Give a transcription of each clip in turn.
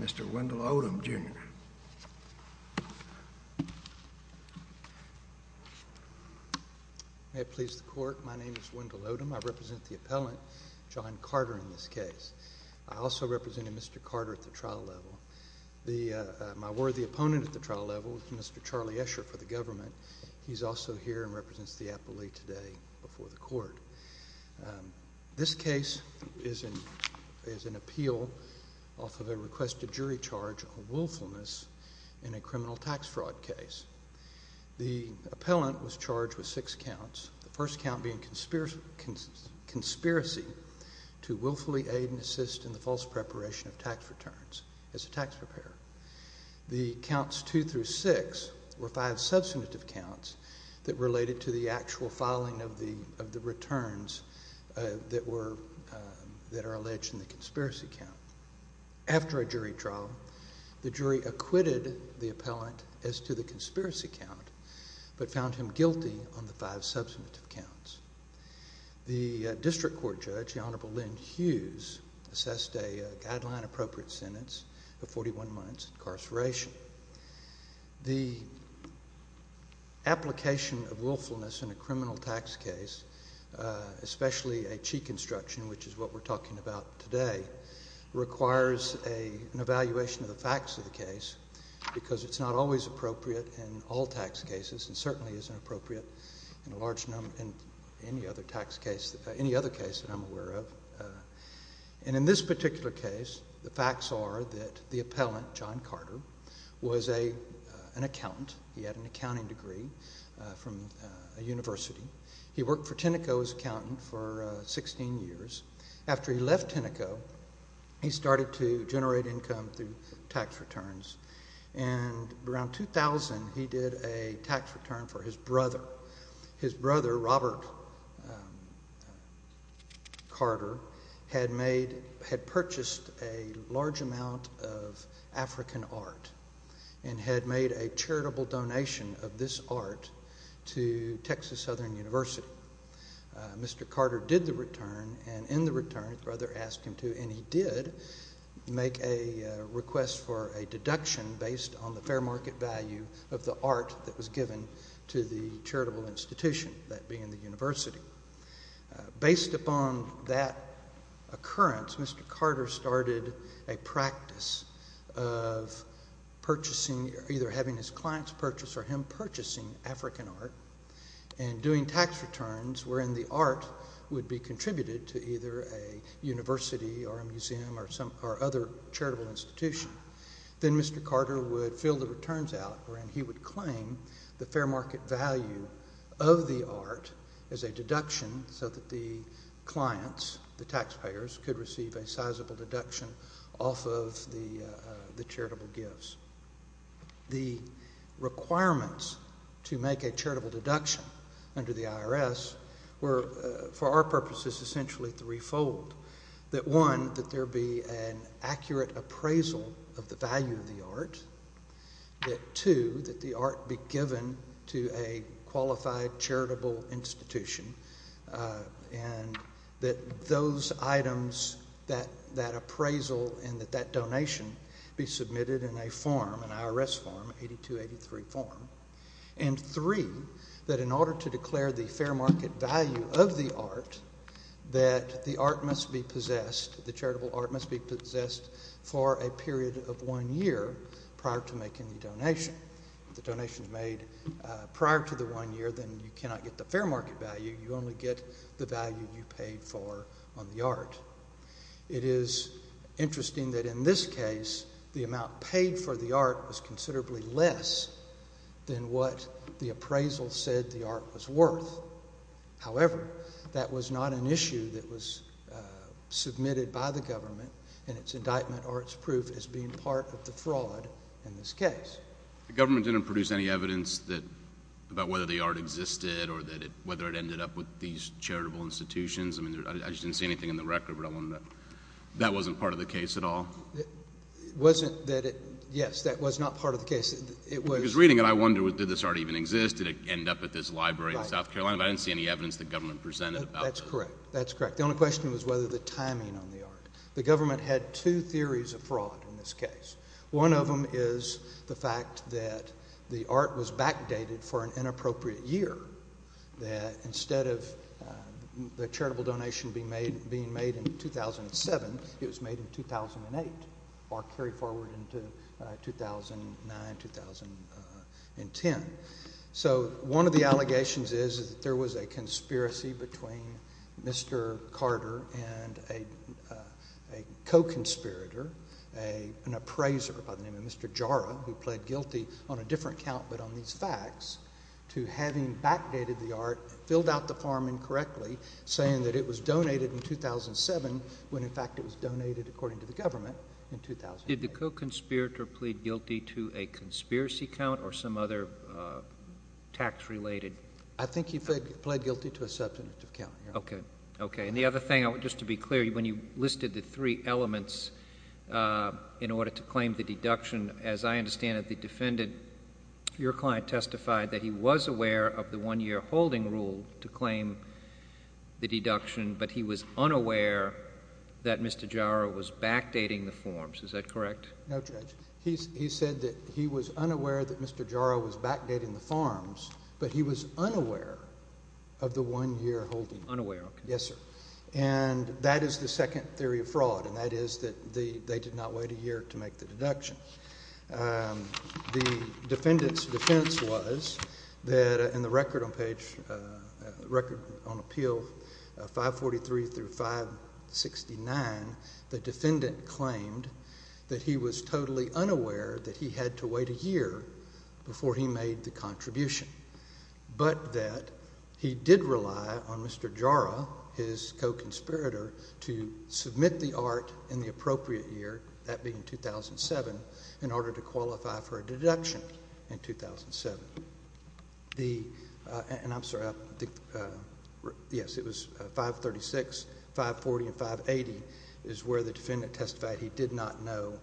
Mr. Wendell Odom, Jr. May it please the court, my name is Wendell Odom. I represent the appellant, John Carter, in this case. I also represented Mr. Carter at the trial level. My worthy opponent at the trial level is Mr. Charlie Escher for the government. He's also here and represents the appellee today before the court. This case is an appeal off of a requested jury charge of willfulness in a criminal tax fraud case. The appellant was charged with six counts. The first count being conspiracy to willfully aid and assist in the false preparation of tax returns as a tax preparer. The counts two through six were five substantive counts that related to the actual filing of the returns that are alleged in the conspiracy count. After a jury trial, the jury acquitted the appellant as to the conspiracy count, but found him guilty on the five substantive counts. The district court judge, the Honorable Lynn Hughes, assessed a guideline-appropriate sentence of 41 months incarceration. The application of willfulness in a criminal tax case, especially a cheat construction, which is what we're talking about today, requires an evaluation of the facts of the case because it's not always appropriate in all tax cases and certainly isn't appropriate in any other case that I'm aware of. In this particular case, the facts are that the appellant, John Carter, was an accountant. He had an accounting degree from a university. He worked for Tenneco as an accountant for 16 years. After he left Tenneco, he started to generate income through tax returns. Around 2000, he did a tax return for his brother. His brother, Robert Carter, had purchased a large amount of African art and had made a charitable donation of this art to Texas Southern University. Mr. Carter did the return, and in the return, his brother asked him to, and he did make a request for a deduction based on the fair market value of the art that was given to the charitable institution, that being the university. Based upon that occurrence, Mr. Carter started a practice of either having his clients purchase or him purchasing African art and doing tax returns wherein the art would be contributed to either a university or a museum or other charitable institution. Then Mr. Carter would fill the returns out wherein he would claim the fair market value of the art as a deduction so that the clients, the taxpayers, could receive a sizable deduction off of the charitable gifts. The requirements to make a charitable deduction under the IRS were, for our purposes, essentially threefold. One, that there be an accurate appraisal of the value of the art. Two, that the art be given to a qualified charitable institution, and that those items, that appraisal and that that donation be submitted in a form, an IRS form, 8283 form. And three, that in order to declare the fair market value of the art, that the art must be possessed, the charitable art must be possessed for a period of one year prior to making the donation. If the donation is made prior to the one year, then you cannot get the fair market value. You only get the value you paid for on the art. It is interesting that in this case, the amount paid for the art was considerably less than what the appraisal said the art was worth. However, that was not an issue that was submitted by the government in its indictment or its proof as being part of the fraud in this case. The government didn't produce any evidence about whether the art existed or whether it ended up with these charitable institutions? I mean, I just didn't see anything in the record, but that wasn't part of the case at all? It wasn't that it, yes, that was not part of the case. Because reading it, I wonder did this art even exist? Did it end up at this library in South Carolina? But I didn't see any evidence the government presented about this. That's correct. That's correct. The only question was whether the timing on the art. The government had two theories of fraud in this case. One of them is the fact that the art was backdated for an inappropriate year, that instead of the charitable donation being made in 2007, it was made in 2008, or carried forward into 2009, 2010. So one of the allegations is that there was a conspiracy between Mr. Carter and a co-conspirator, an appraiser by the name of Mr. Jara, who pled guilty on a different count but on these facts, to having backdated the art, filled out the form incorrectly, saying that it was donated in 2007 when, in fact, it was donated, according to the government, in 2008. Did the co-conspirator plead guilty to a conspiracy count or some other tax-related? I think he pled guilty to a substantive count. Okay. And the other thing, just to be clear, when you listed the three elements in order to claim the deduction, as I understand it, the defendant, your client, to claim the deduction, but he was unaware that Mr. Jara was backdating the forms. Is that correct? No, Judge. He said that he was unaware that Mr. Jara was backdating the forms, but he was unaware of the one-year holding. Unaware, okay. Yes, sir. And that is the second theory of fraud, and that is that they did not wait a year to make the deduction. The defendant's defense was that in the record on page, record on appeal 543 through 569, the defendant claimed that he was totally unaware that he had to wait a year before he made the contribution, but that he did rely on Mr. Jara, his co-conspirator, to submit the art in the appropriate year, that being 2007, in order to qualify for a deduction in 2007. The, and I'm sorry, I think, yes, it was 536, 540, and 580 is where the defendant testified he did not know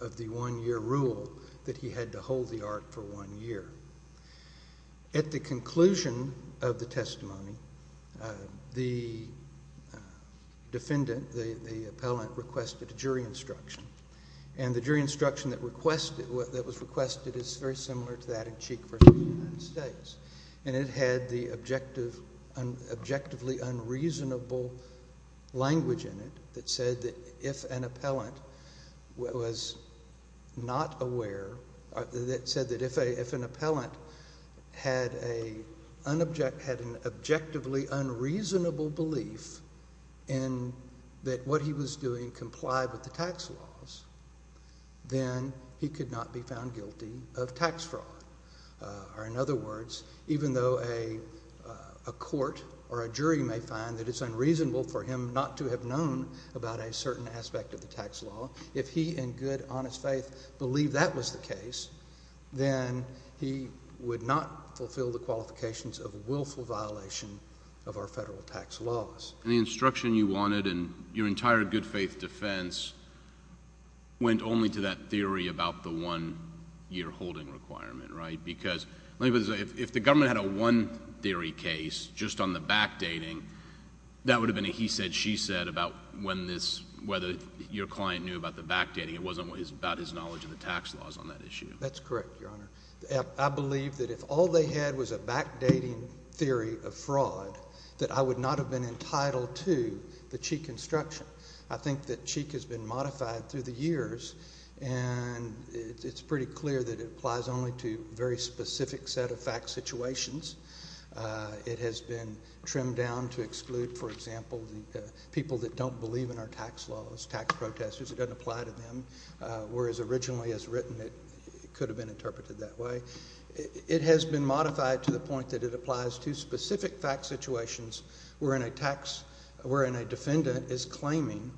of the one-year rule that he had to hold the art for one year. At the conclusion of the testimony, the defendant, the appellant, requested a jury instruction, and the jury instruction that was requested is very similar to that in Cheek v. United States, and it had the objectively unreasonable language in it that said that if an appellant was not aware, that said that if an appellant had an objectively unreasonable belief in that what he was doing complied with the tax laws, then he could not be found guilty of tax fraud. Or in other words, even though a court or a jury may find that it's unreasonable for him not to have known about a certain aspect of the tax law, if he in good, honest faith believed that was the case, then he would not fulfill the qualifications of willful violation of our federal tax laws. And the instruction you wanted in your entire good-faith defense went only to that theory about the one-year holding requirement, right? Because if the government had a one-theory case just on the backdating, that would have been a he said, she said about whether your client knew about the backdating. It wasn't about his knowledge of the tax laws on that issue. That's correct, Your Honor. I believe that if all they had was a backdating theory of fraud, that I would not have been entitled to the Cheek instruction. I think that Cheek has been modified through the years, and it's pretty clear that it applies only to a very specific set of fact situations. It has been trimmed down to exclude, for example, the people that don't believe in our tax laws, tax protesters. It doesn't apply to them. Whereas originally as written, it could have been interpreted that way. It has been modified to the point that it applies to specific fact situations wherein a defendant is claiming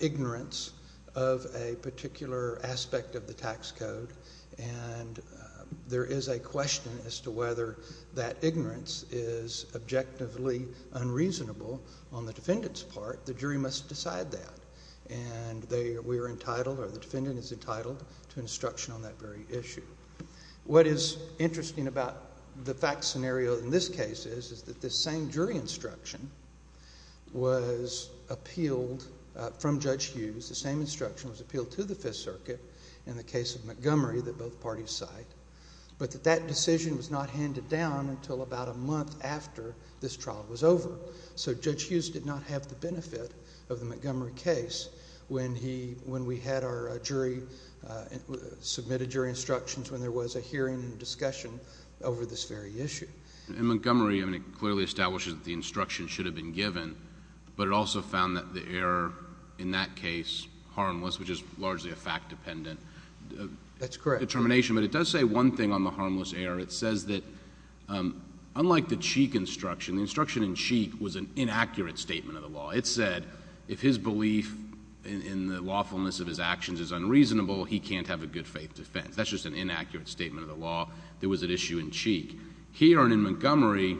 ignorance of a particular aspect of the tax code. And there is a question as to whether that ignorance is objectively unreasonable on the defendant's part. The jury must decide that. And we are entitled or the defendant is entitled to instruction on that very issue. What is interesting about the fact scenario in this case is that this same jury instruction was appealed from Judge Hughes. The same instruction was appealed to the Fifth Circuit in the case of Montgomery that both parties cite, but that that decision was not handed down until about a month after this trial was over. So Judge Hughes did not have the benefit of the Montgomery case when we had our jury, submitted jury instructions when there was a hearing and discussion over this very issue. And Montgomery, I mean, it clearly establishes that the instruction should have been given, but it also found that the error in that case harmless, which is largely a fact-dependent determination. That's correct. But it does say one thing on the harmless error. It says that unlike the Cheek instruction, the instruction in Cheek was an inaccurate statement of the law. It said if his belief in the lawfulness of his actions is unreasonable, he can't have a good-faith defense. That's just an inaccurate statement of the law. There was an issue in Cheek. Here and in Montgomery,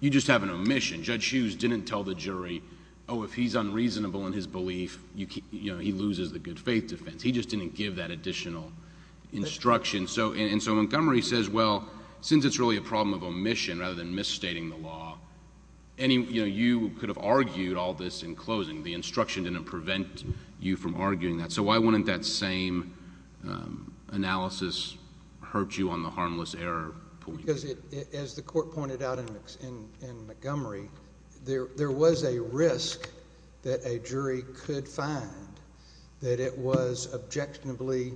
you just have an omission. Judge Hughes didn't tell the jury, oh, if he's unreasonable in his belief, he loses the good-faith defense. He just didn't give that additional instruction. And so Montgomery says, well, since it's really a problem of omission rather than misstating the law, you could have argued all this in closing. The instruction didn't prevent you from arguing that. So why wouldn't that same analysis hurt you on the harmless error? Because as the court pointed out in Montgomery, there was a risk that a jury could find that it was objectionably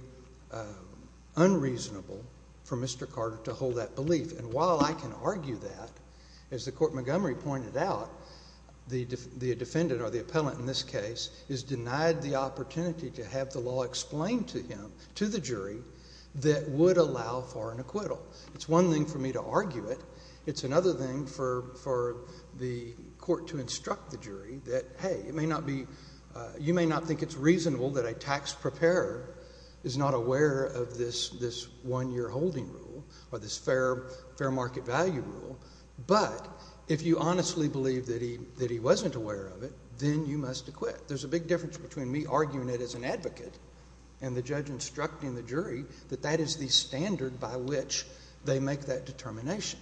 unreasonable for Mr. Carter to hold that belief. And while I can argue that, as the court in Montgomery pointed out, the defendant or the appellant in this case is denied the opportunity to have the law explained to him, to the jury, that would allow for an acquittal. It's one thing for me to argue it. It's another thing for the court to instruct the jury that, hey, you may not think it's reasonable that a tax preparer is not aware of this one-year holding rule or this fair market value rule, but if you honestly believe that he wasn't aware of it, then you must acquit. There's a big difference between me arguing it as an advocate and the judge instructing the jury that that is the standard by which they make that determination.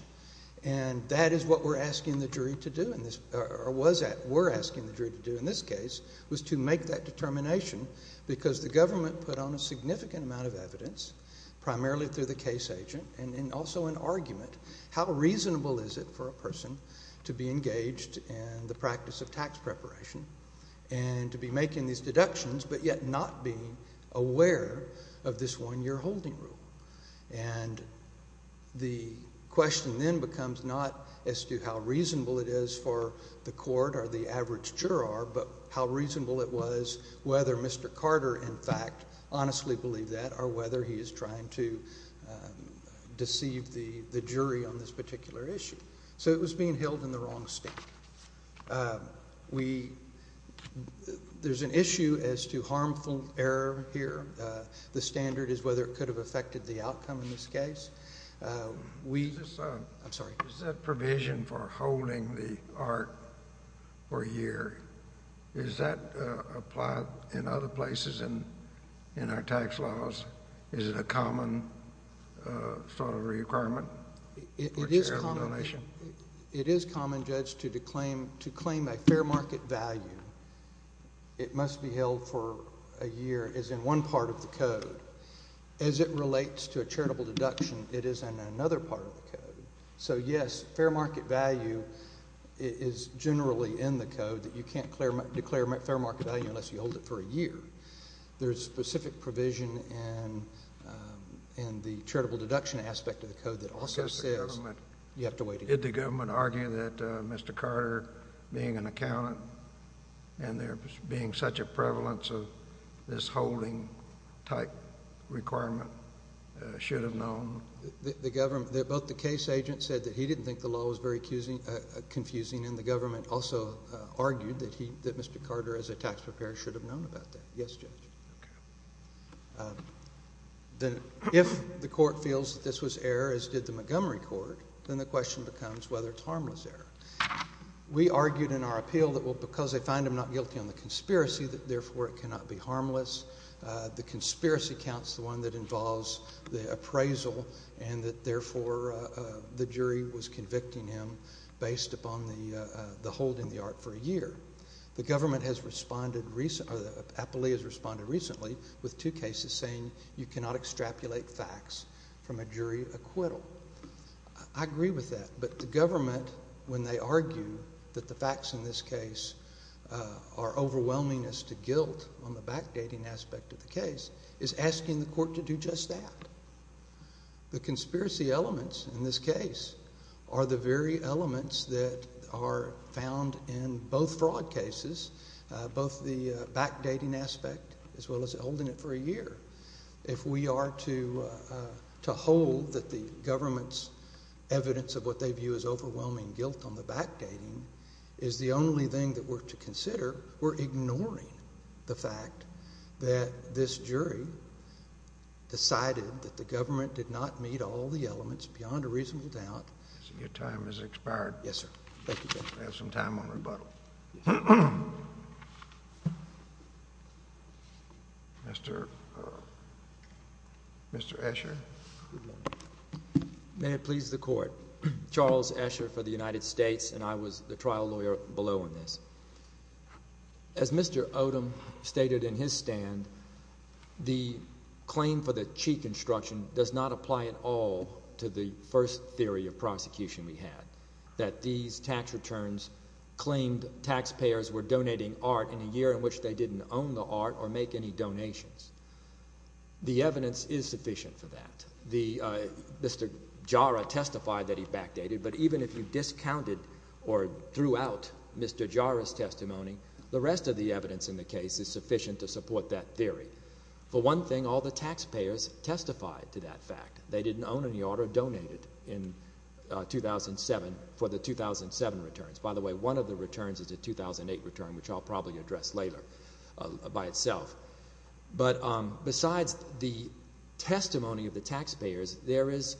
And that is what we're asking the jury to do, or was asking the jury to do in this case, was to make that determination because the government put on a significant amount of evidence, primarily through the case agent and also in argument, how reasonable is it for a person to be engaged in the practice of tax preparation and to be making these deductions but yet not being aware of this one-year holding rule? And the question then becomes not as to how reasonable it is for the court or the average juror, but how reasonable it was whether Mr. Carter, in fact, honestly believed that or whether he is trying to deceive the jury on this particular issue. So it was being held in the wrong stake. We—there's an issue as to harmful error here. The standard is whether it could have affected the outcome in this case. We—I'm sorry. Is that provision for holding the art for a year, is that applied in other places in our tax laws? Is it a common sort of requirement for charitable donation? It is common, Judge, to claim a fair market value. It must be held for a year as in one part of the code. As it relates to a charitable deduction, it is in another part of the code. So, yes, fair market value is generally in the code that you can't declare fair market value unless you hold it for a year. There is specific provision in the charitable deduction aspect of the code that also says— Did the government argue that Mr. Carter, being an accountant, and there being such a prevalence of this holding type requirement, should have known? The government—both the case agent said that he didn't think the law was very confusing, and the government also argued that Mr. Carter, as a tax preparer, should have known about that. Yes, Judge. Then if the court feels that this was error, as did the Montgomery court, then the question becomes whether it's harmless error. We argued in our appeal that, well, because they find him not guilty on the conspiracy, that therefore it cannot be harmless. The conspiracy counts, the one that involves the appraisal, and that, therefore, the jury was convicting him based upon the hold in the art for a year. The government has responded recently, or the appellee has responded recently, with two cases saying you cannot extrapolate facts from a jury acquittal. I agree with that. But the government, when they argue that the facts in this case are overwhelming as to guilt on the backdating aspect of the case, is asking the court to do just that. The conspiracy elements in this case are the very elements that are found in both fraud cases, both the backdating aspect as well as holding it for a year. If we are to hold that the government's evidence of what they view as overwhelming guilt on the backdating is the only thing that we're to consider, we're ignoring the fact that this jury decided that the government did not meet all the elements beyond a reasonable doubt. Your time has expired. Yes, sir. Thank you, Judge. We have some time on rebuttal. Mr. Escher. May it please the Court. Charles Escher for the United States, and I was the trial lawyer below in this. As Mr. Odom stated in his stand, the claim for the cheat construction does not apply at all to the first theory of prosecution we had, that these tax returns claimed taxpayers were donating art in a year in which they didn't own the art or make any donations. The evidence is sufficient for that. Mr. Jara testified that he backdated, but even if you discounted or threw out Mr. Jara's testimony, the rest of the evidence in the case is sufficient to support that theory. For one thing, all the taxpayers testified to that fact. They didn't own any art or donate it in 2007 for the 2007 returns. By the way, one of the returns is a 2008 return, which I'll probably address later by itself. Besides the testimony of the taxpayers, there is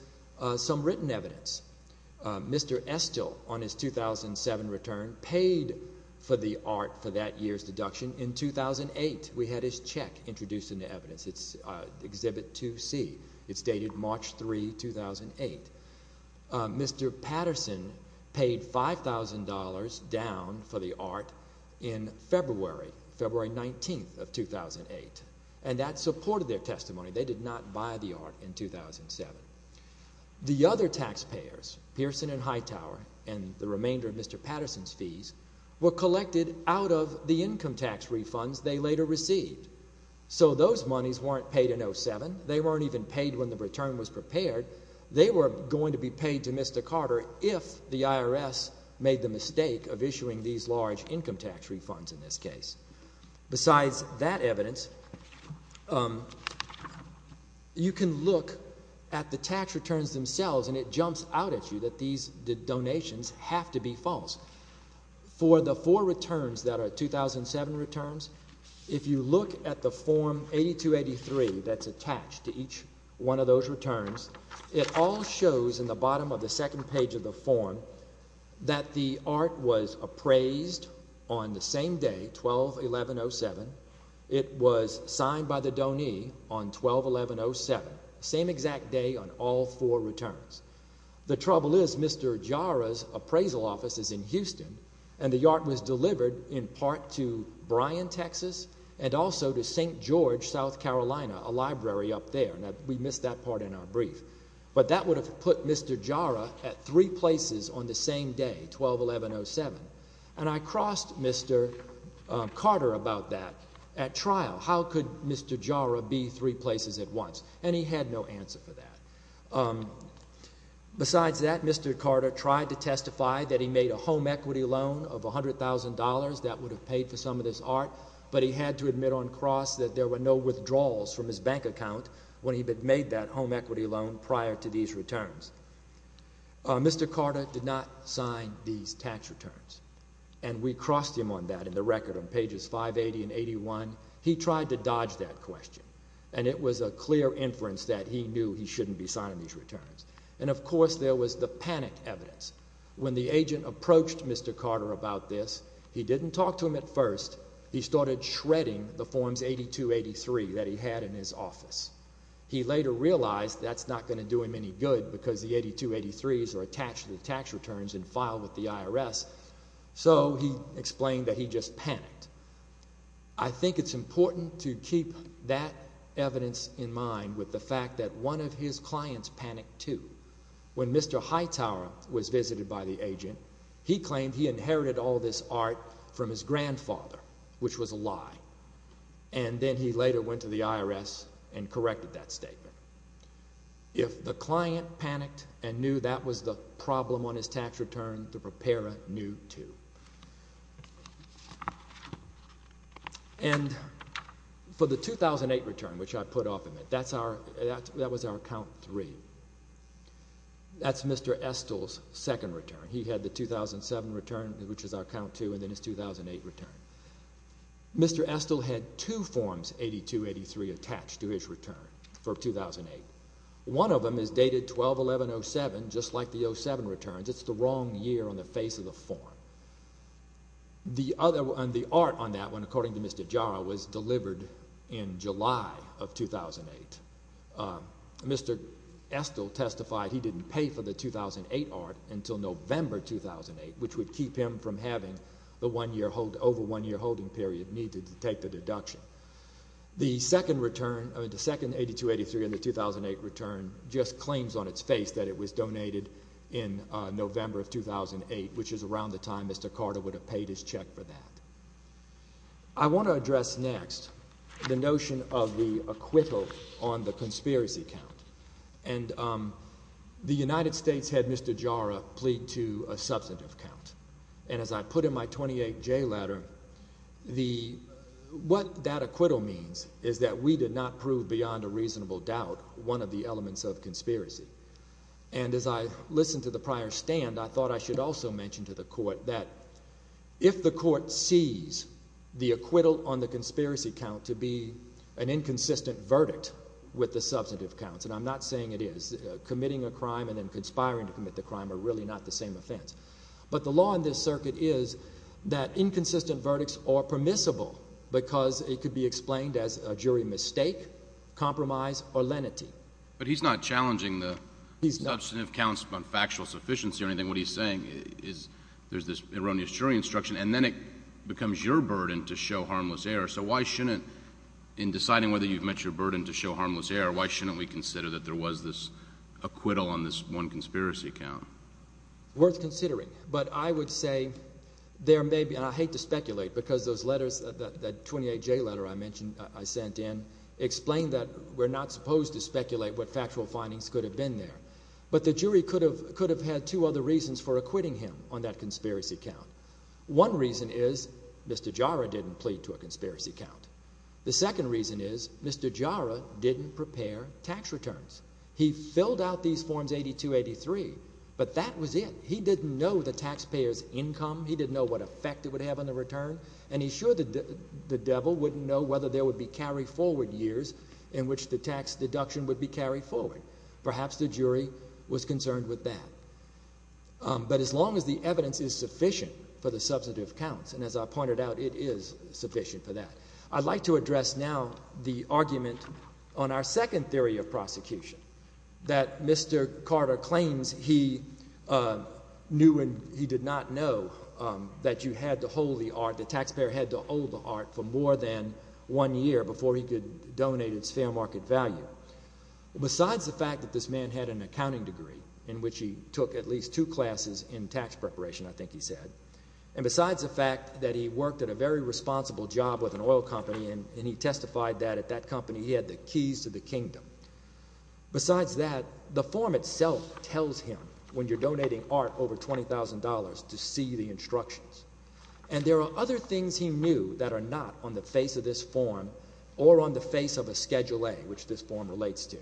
some written evidence. Mr. Estill, on his 2007 return, paid for the art for that year's deduction in 2008. We had his check introduced in the evidence. It's Exhibit 2C. It's dated March 3, 2008. Mr. Patterson paid $5,000 down for the art in February, February 19, 2008, and that supported their testimony. They did not buy the art in 2007. The other taxpayers, Pearson and Hightower, and the remainder of Mr. Patterson's fees, were collected out of the income tax refunds they later received. So those monies weren't paid in 2007. They weren't even paid when the return was prepared. They were going to be paid to Mr. Carter if the IRS made the mistake of issuing these large income tax refunds in this case. Besides that evidence, you can look at the tax returns themselves, and it jumps out at you that these donations have to be false. For the four returns that are 2007 returns, if you look at the Form 8283 that's attached to each one of those returns, it all shows in the bottom of the second page of the form that the art was appraised on the same day, 12-11-07. It was signed by the donee on 12-11-07, same exact day on all four returns. The trouble is Mr. Jara's appraisal office is in Houston, and the art was delivered in part to Bryan, Texas, and also to St. George, South Carolina, a library up there. We missed that part in our brief. But that would have put Mr. Jara at three places on the same day, 12-11-07. And I crossed Mr. Carter about that at trial. How could Mr. Jara be three places at once? And he had no answer for that. Besides that, Mr. Carter tried to testify that he made a home equity loan of $100,000 that would have paid for some of this art, but he had to admit on cross that there were no withdrawals from his bank account when he made that home equity loan prior to these returns. Mr. Carter did not sign these tax returns, and we crossed him on that in the record on pages 580 and 81. He tried to dodge that question, and it was a clear inference that he knew he shouldn't be signing these returns. And, of course, there was the panic evidence. When the agent approached Mr. Carter about this, he didn't talk to him at first. He started shredding the forms 8283 that he had in his office. He later realized that's not going to do him any good because the 8283s are attached to the tax returns and filed with the IRS. So he explained that he just panicked. I think it's important to keep that evidence in mind with the fact that one of his clients panicked too. When Mr. Hightower was visited by the agent, he claimed he inherited all this art from his grandfather, which was a lie. And then he later went to the IRS and corrected that statement. If the client panicked and knew that was the problem on his tax return, the preparer knew too. And for the 2008 return, which I put off a minute, that was our count three. That's Mr. Estill's second return. He had the 2007 return, which is our count two, and then his 2008 return. Mr. Estill had two forms 8283 attached to his return for 2008. One of them is dated 12-11-07, just like the 07 returns. It's the wrong year on the face of the form. The art on that one, according to Mr. Jara, was delivered in July of 2008. Mr. Estill testified he didn't pay for the 2008 art until November 2008, which would keep him from having the over one-year holding period needed to take the deduction. The second 8283 in the 2008 return just claims on its face that it was donated in November of 2008, which is around the time Mr. Carter would have paid his check for that. I want to address next the notion of the acquittal on the conspiracy count. And the United States had Mr. Jara plead to a substantive count. And as I put in my 28-J letter, what that acquittal means is that we did not prove beyond a reasonable doubt one of the elements of conspiracy. And as I listened to the prior stand, I thought I should also mention to the court that if the court sees the acquittal on the conspiracy count to be an inconsistent verdict with the substantive counts, and I'm not saying it is. Committing a crime and then conspiring to commit the crime are really not the same offense. But the law in this circuit is that inconsistent verdicts are permissible because it could be explained as a jury mistake, compromise, or lenity. But he's not challenging the substantive counts on factual sufficiency or anything. What he's saying is there's this erroneous jury instruction, and then it becomes your burden to show harmless error. So why shouldn't – in deciding whether you've met your burden to show harmless error, why shouldn't we consider that there was this acquittal on this one conspiracy count? Worth considering, but I would say there may be – and I hate to speculate because those letters, that 28-J letter I mentioned – I sent in explained that we're not supposed to speculate what factual findings could have been there. But the jury could have had two other reasons for acquitting him on that conspiracy count. One reason is Mr. Jara didn't plead to a conspiracy count. The second reason is Mr. Jara didn't prepare tax returns. He filled out these Forms 82-83, but that was it. He didn't know the taxpayer's income. He didn't know what effect it would have on the return, and he's sure the devil wouldn't know whether there would be carry-forward years in which the tax deduction would be carried forward. Perhaps the jury was concerned with that. But as long as the evidence is sufficient for the substantive counts – and as I pointed out, it is sufficient for that – I'd like to address now the argument on our second theory of prosecution. That Mr. Carter claims he knew and he did not know that you had to hold the art – the taxpayer had to hold the art for more than one year before he could donate its fair market value. Besides the fact that this man had an accounting degree in which he took at least two classes in tax preparation, I think he said, and besides the fact that he worked at a very responsible job with an oil company, and he testified that at that company he had the keys to the kingdom. Besides that, the form itself tells him, when you're donating art over $20,000, to see the instructions. And there are other things he knew that are not on the face of this form or on the face of a Schedule A, which this form relates to.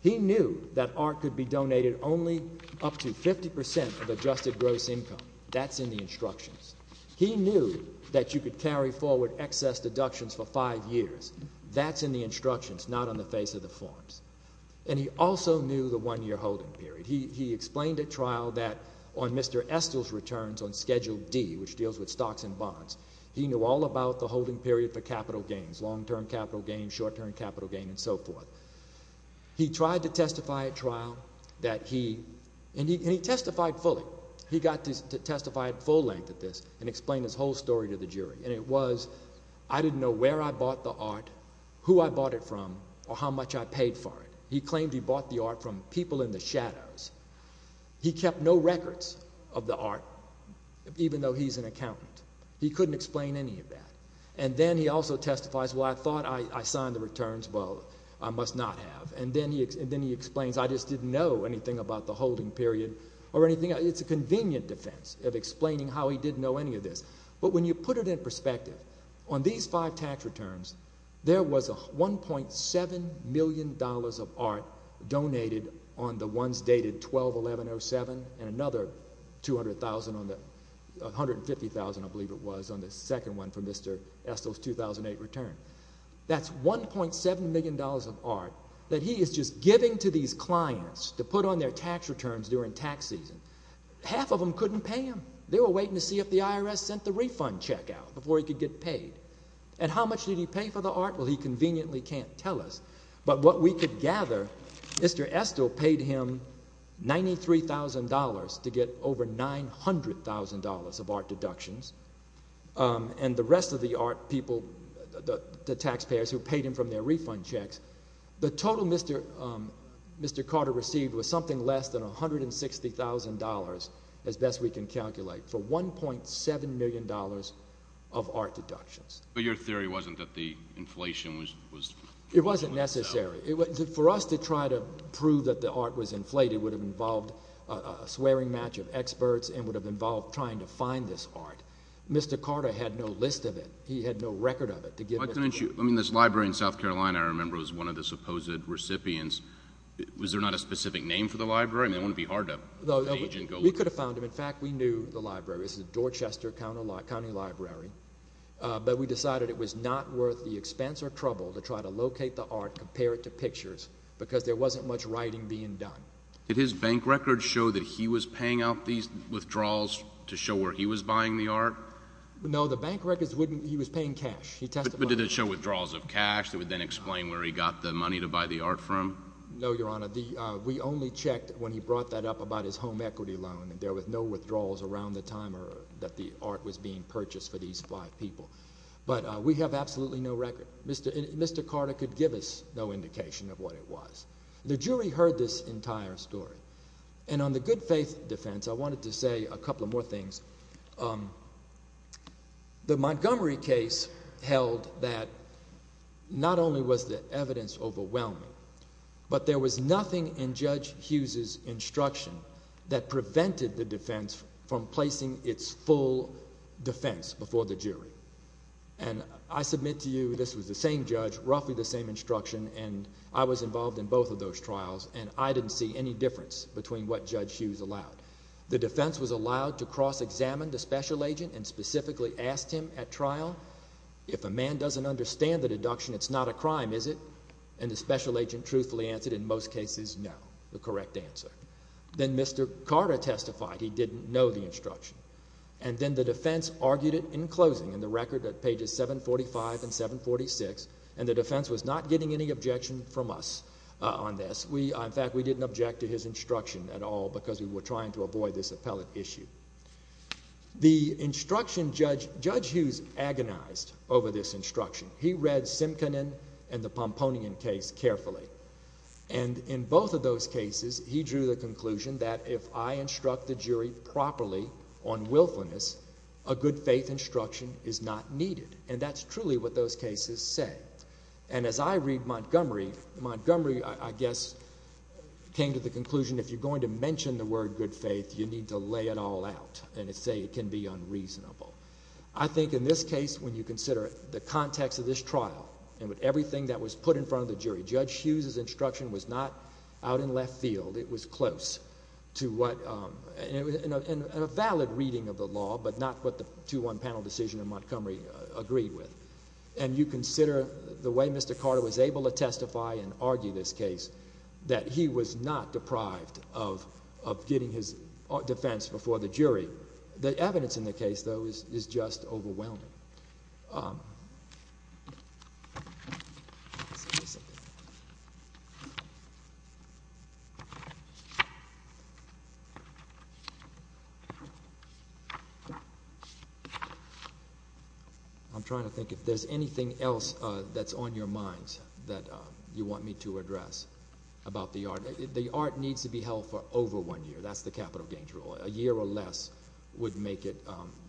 He knew that art could be donated only up to 50 percent of adjusted gross income. That's in the instructions. He knew that you could carry forward excess deductions for five years. That's in the instructions, not on the face of the forms. And he also knew the one-year holding period. He explained at trial that on Mr. Estill's returns on Schedule D, which deals with stocks and bonds, he knew all about the holding period for capital gains, long-term capital gains, short-term capital gains, and so forth. He tried to testify at trial that he – and he testified fully. He got to testify at full length at this and explain his whole story to the jury. And it was, I didn't know where I bought the art, who I bought it from, or how much I paid for it. He claimed he bought the art from people in the shadows. He kept no records of the art, even though he's an accountant. He couldn't explain any of that. And then he also testifies, well, I thought I signed the returns. Well, I must not have. And then he explains, I just didn't know anything about the holding period or anything. It's a convenient defense of explaining how he didn't know any of this. But when you put it in perspective, on these five tax returns, there was $1.7 million of art donated on the ones dated 12-11-07 and another $250,000, I believe it was, on the second one for Mr. Estill's 2008 return. That's $1.7 million of art that he is just giving to these clients to put on their tax returns during tax season. Half of them couldn't pay him. They were waiting to see if the IRS sent the refund check out before he could get paid. And how much did he pay for the art? Well, he conveniently can't tell us. But what we could gather, Mr. Estill paid him $93,000 to get over $900,000 of art deductions. And the rest of the art people, the taxpayers who paid him from their refund checks, the total Mr. Carter received was something less than $160,000 as best we can calculate for $1.7 million of art deductions. But your theory wasn't that the inflation was… It wasn't necessary. For us to try to prove that the art was inflated would have involved a swearing match of experts and would have involved trying to find this art. Mr. Carter had no list of it. He had no record of it. I mean, this library in South Carolina, I remember, was one of the supposed recipients. Was there not a specific name for the library? I mean, it wouldn't be hard to… We could have found him. In fact, we knew the library. It was the Dorchester County Library. But we decided it was not worth the expense or trouble to try to locate the art, compare it to pictures, because there wasn't much writing being done. Did his bank records show that he was paying out these withdrawals to show where he was buying the art? No, the bank records wouldn't. He was paying cash. But did it show withdrawals of cash that would then explain where he got the money to buy the art from? No, Your Honor. We only checked when he brought that up about his home equity loan. There were no withdrawals around the time that the art was being purchased for these five people. But we have absolutely no record. Mr. Carter could give us no indication of what it was. The jury heard this entire story. And on the good faith defense, I wanted to say a couple of more things. The Montgomery case held that not only was the evidence overwhelming, but there was nothing in Judge Hughes' instruction that prevented the defense from placing its full defense before the jury. And I submit to you this was the same judge, roughly the same instruction, and I was involved in both of those trials, and I didn't see any difference between what Judge Hughes allowed. The defense was allowed to cross-examine the special agent and specifically asked him at trial, if a man doesn't understand the deduction, it's not a crime, is it? And the special agent truthfully answered, in most cases, no, the correct answer. Then Mr. Carter testified he didn't know the instruction. And then the defense argued it in closing in the record at pages 745 and 746, and the defense was not getting any objection from us on this. In fact, we didn't object to his instruction at all because we were trying to avoid this appellate issue. The instruction, Judge Hughes agonized over this instruction. He read Simkonen and the Pomponian case carefully. And in both of those cases, he drew the conclusion that if I instruct the jury properly on willfulness, a good faith instruction is not needed. And that's truly what those cases say. And as I read Montgomery, Montgomery, I guess, came to the conclusion if you're going to mention the word good faith, you need to lay it all out and say it can be unreasonable. I think in this case, when you consider the context of this trial and with everything that was put in front of the jury, Judge Hughes' instruction was not out in left field. It was close to what—and a valid reading of the law, but not what the 2-1 panel decision in Montgomery agreed with. And you consider the way Mr. Carter was able to testify and argue this case, that he was not deprived of getting his defense before the jury. The evidence in the case, though, is just overwhelming. I'm trying to think if there's anything else that's on your minds that you want me to address about the art. The art needs to be held for over one year. That's the capital gains rule. A year or less would make it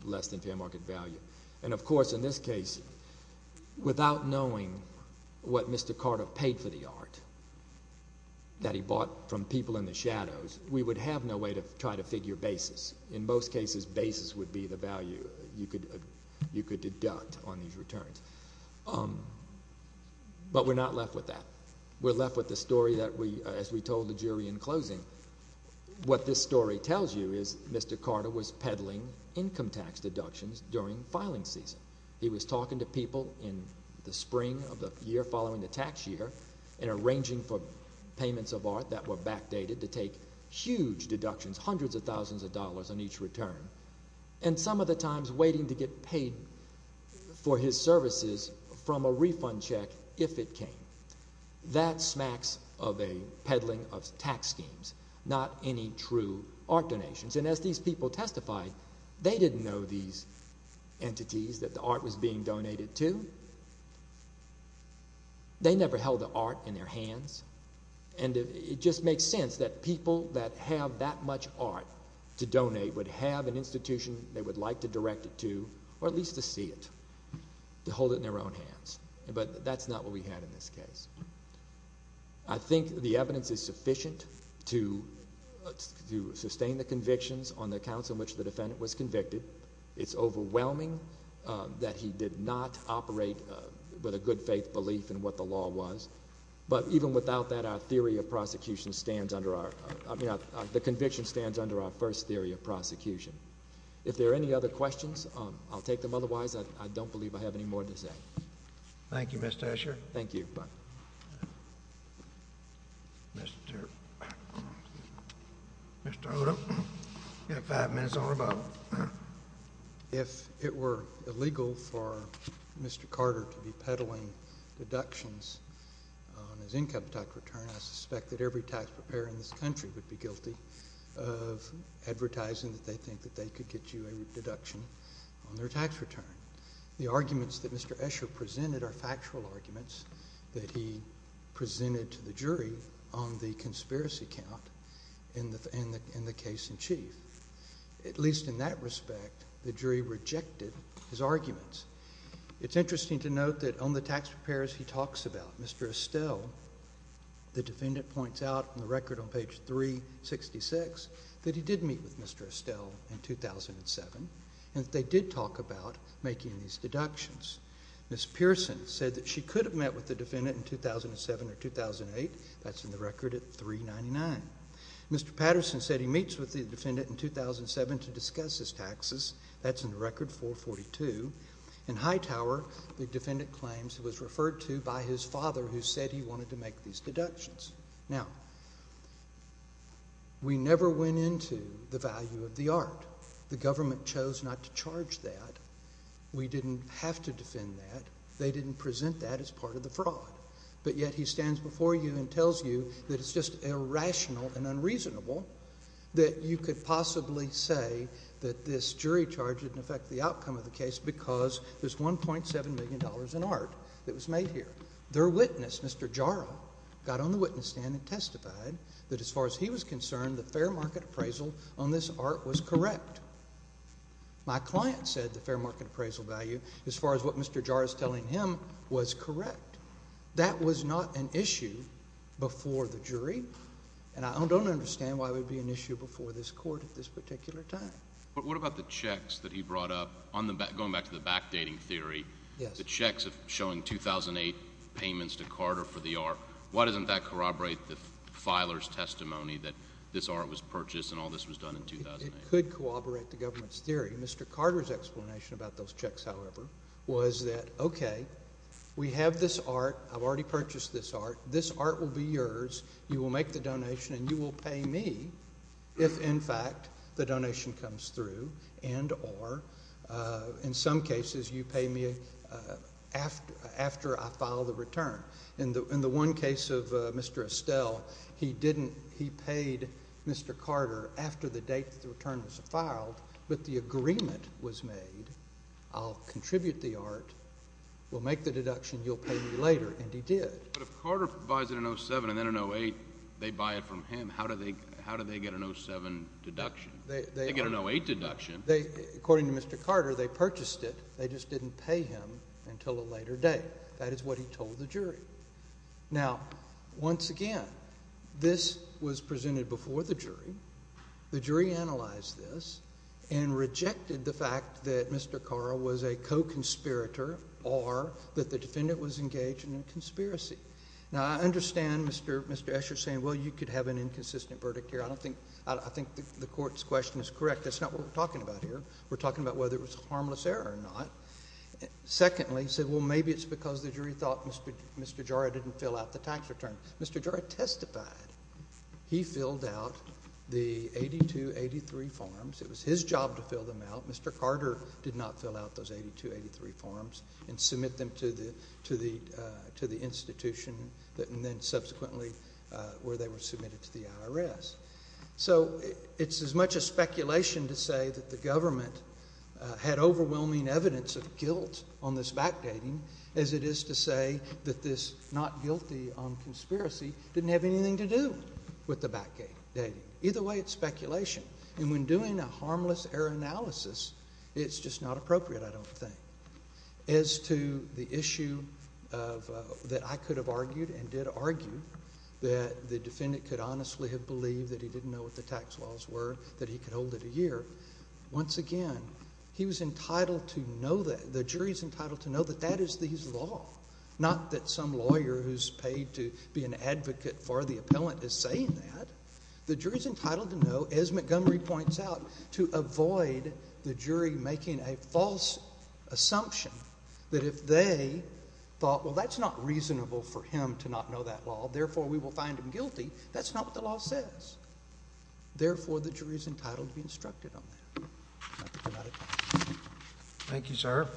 less than fair market value. And, of course, in this case, without knowing what Mr. Carter paid for the art that he bought from people in the shadows, we would have no way to try to figure basis. In most cases, basis would be the value you could deduct on these returns. But we're not left with that. We're left with the story that we—as we told the jury in closing. What this story tells you is Mr. Carter was peddling income tax deductions during filing season. He was talking to people in the spring of the year following the tax year and arranging for payments of art that were backdated to take huge deductions, hundreds of thousands of dollars on each return, and some of the times waiting to get paid for his services from a refund check if it came. That smacks of a peddling of tax schemes, not any true art donations. And as these people testified, they didn't know these entities that the art was being donated to. They never held the art in their hands. And it just makes sense that people that have that much art to donate would have an institution they would like to direct it to or at least to see it, to hold it in their own hands. But that's not what we had in this case. I think the evidence is sufficient to sustain the convictions on the accounts on which the defendant was convicted. It's overwhelming that he did not operate with a good faith belief in what the law was. But even without that, our theory of prosecution stands under our—the conviction stands under our first theory of prosecution. If there are any other questions, I'll take them. Otherwise, I don't believe I have any more to say. Thank you, Mr. Escher. Thank you. Mr. Odom, you have five minutes or about. If it were illegal for Mr. Carter to be peddling deductions on his income tax return, I suspect that every tax preparer in this country would be guilty of advertising that they think that they could get you a deduction on their tax return. The arguments that Mr. Escher presented are factual arguments that he presented to the jury on the conspiracy count in the case in chief. At least in that respect, the jury rejected his arguments. It's interesting to note that on the tax preparers he talks about, Mr. Estelle, the defendant points out in the record on page 366 that he did meet with Mr. Estelle in 2007 and that they did talk about making these deductions. Ms. Pearson said that she could have met with the defendant in 2007 or 2008. That's in the record at 399. Mr. Patterson said he meets with the defendant in 2007 to discuss his taxes. That's in the record 442. In Hightower, the defendant claims he was referred to by his father who said he wanted to make these deductions. Now, we never went into the value of the art. The government chose not to charge that. We didn't have to defend that. They didn't present that as part of the fraud. But yet he stands before you and tells you that it's just irrational and unreasonable that you could possibly say that this jury charge didn't affect the outcome of the case because there's $1.7 million in art that was made here. Their witness, Mr. Jaro, got on the witness stand and testified that as far as he was concerned, the fair market appraisal on this art was correct. My client said the fair market appraisal value, as far as what Mr. Jaro is telling him, was correct. That was not an issue before the jury, and I don't understand why it would be an issue before this court at this particular time. But what about the checks that he brought up? Going back to the backdating theory, the checks showing 2008 payments to Carter for the art, why doesn't that corroborate the filer's testimony that this art was purchased and all this was done in 2008? It could corroborate the government's theory. Mr. Carter's explanation about those checks, however, was that, okay, we have this art. I've already purchased this art. This art will be yours. You will make the donation and you will pay me if, in fact, the donation comes through and or, in some cases, you pay me after I file the return. In the one case of Mr. Estelle, he paid Mr. Carter after the date the return was filed, but the agreement was made, I'll contribute the art, we'll make the deduction, you'll pay me later, and he did. But if Carter buys it in 07 and then in 08 they buy it from him, how do they get an 07 deduction? They get an 08 deduction. According to Mr. Carter, they purchased it. They just didn't pay him until a later date. That is what he told the jury. Now, once again, this was presented before the jury. The jury analyzed this and rejected the fact that Mr. Carter was a co-conspirator or that the defendant was engaged in a conspiracy. Now, I understand Mr. Escher saying, well, you could have an inconsistent verdict here. I think the court's question is correct. That's not what we're talking about here. We're talking about whether it was a harmless error or not. Secondly, he said, well, maybe it's because the jury thought Mr. Jara didn't fill out the tax return. Mr. Jara testified. He filled out the 8283 forms. It was his job to fill them out. Mr. Carter did not fill out those 8283 forms and submit them to the institution and then subsequently where they were submitted to the IRS. So it's as much a speculation to say that the government had overwhelming evidence of guilt on this backdating as it is to say that this not guilty on conspiracy didn't have anything to do with the backdating. Either way, it's speculation. And when doing a harmless error analysis, it's just not appropriate, I don't think. As to the issue that I could have argued and did argue that the defendant could honestly have believed that he didn't know what the tax laws were, that he could hold it a year, once again, he was entitled to know that. The jury's entitled to know that that is the law, not that some lawyer who's paid to be an advocate for the appellant is saying that. The jury's entitled to know, as Montgomery points out, to avoid the jury making a false assumption that if they thought, well, that's not reasonable for him to not know that law, therefore we will find him guilty, that's not what the law says. Therefore, the jury's entitled to be instructed on that. I think I'm out of time. Thank you, sir.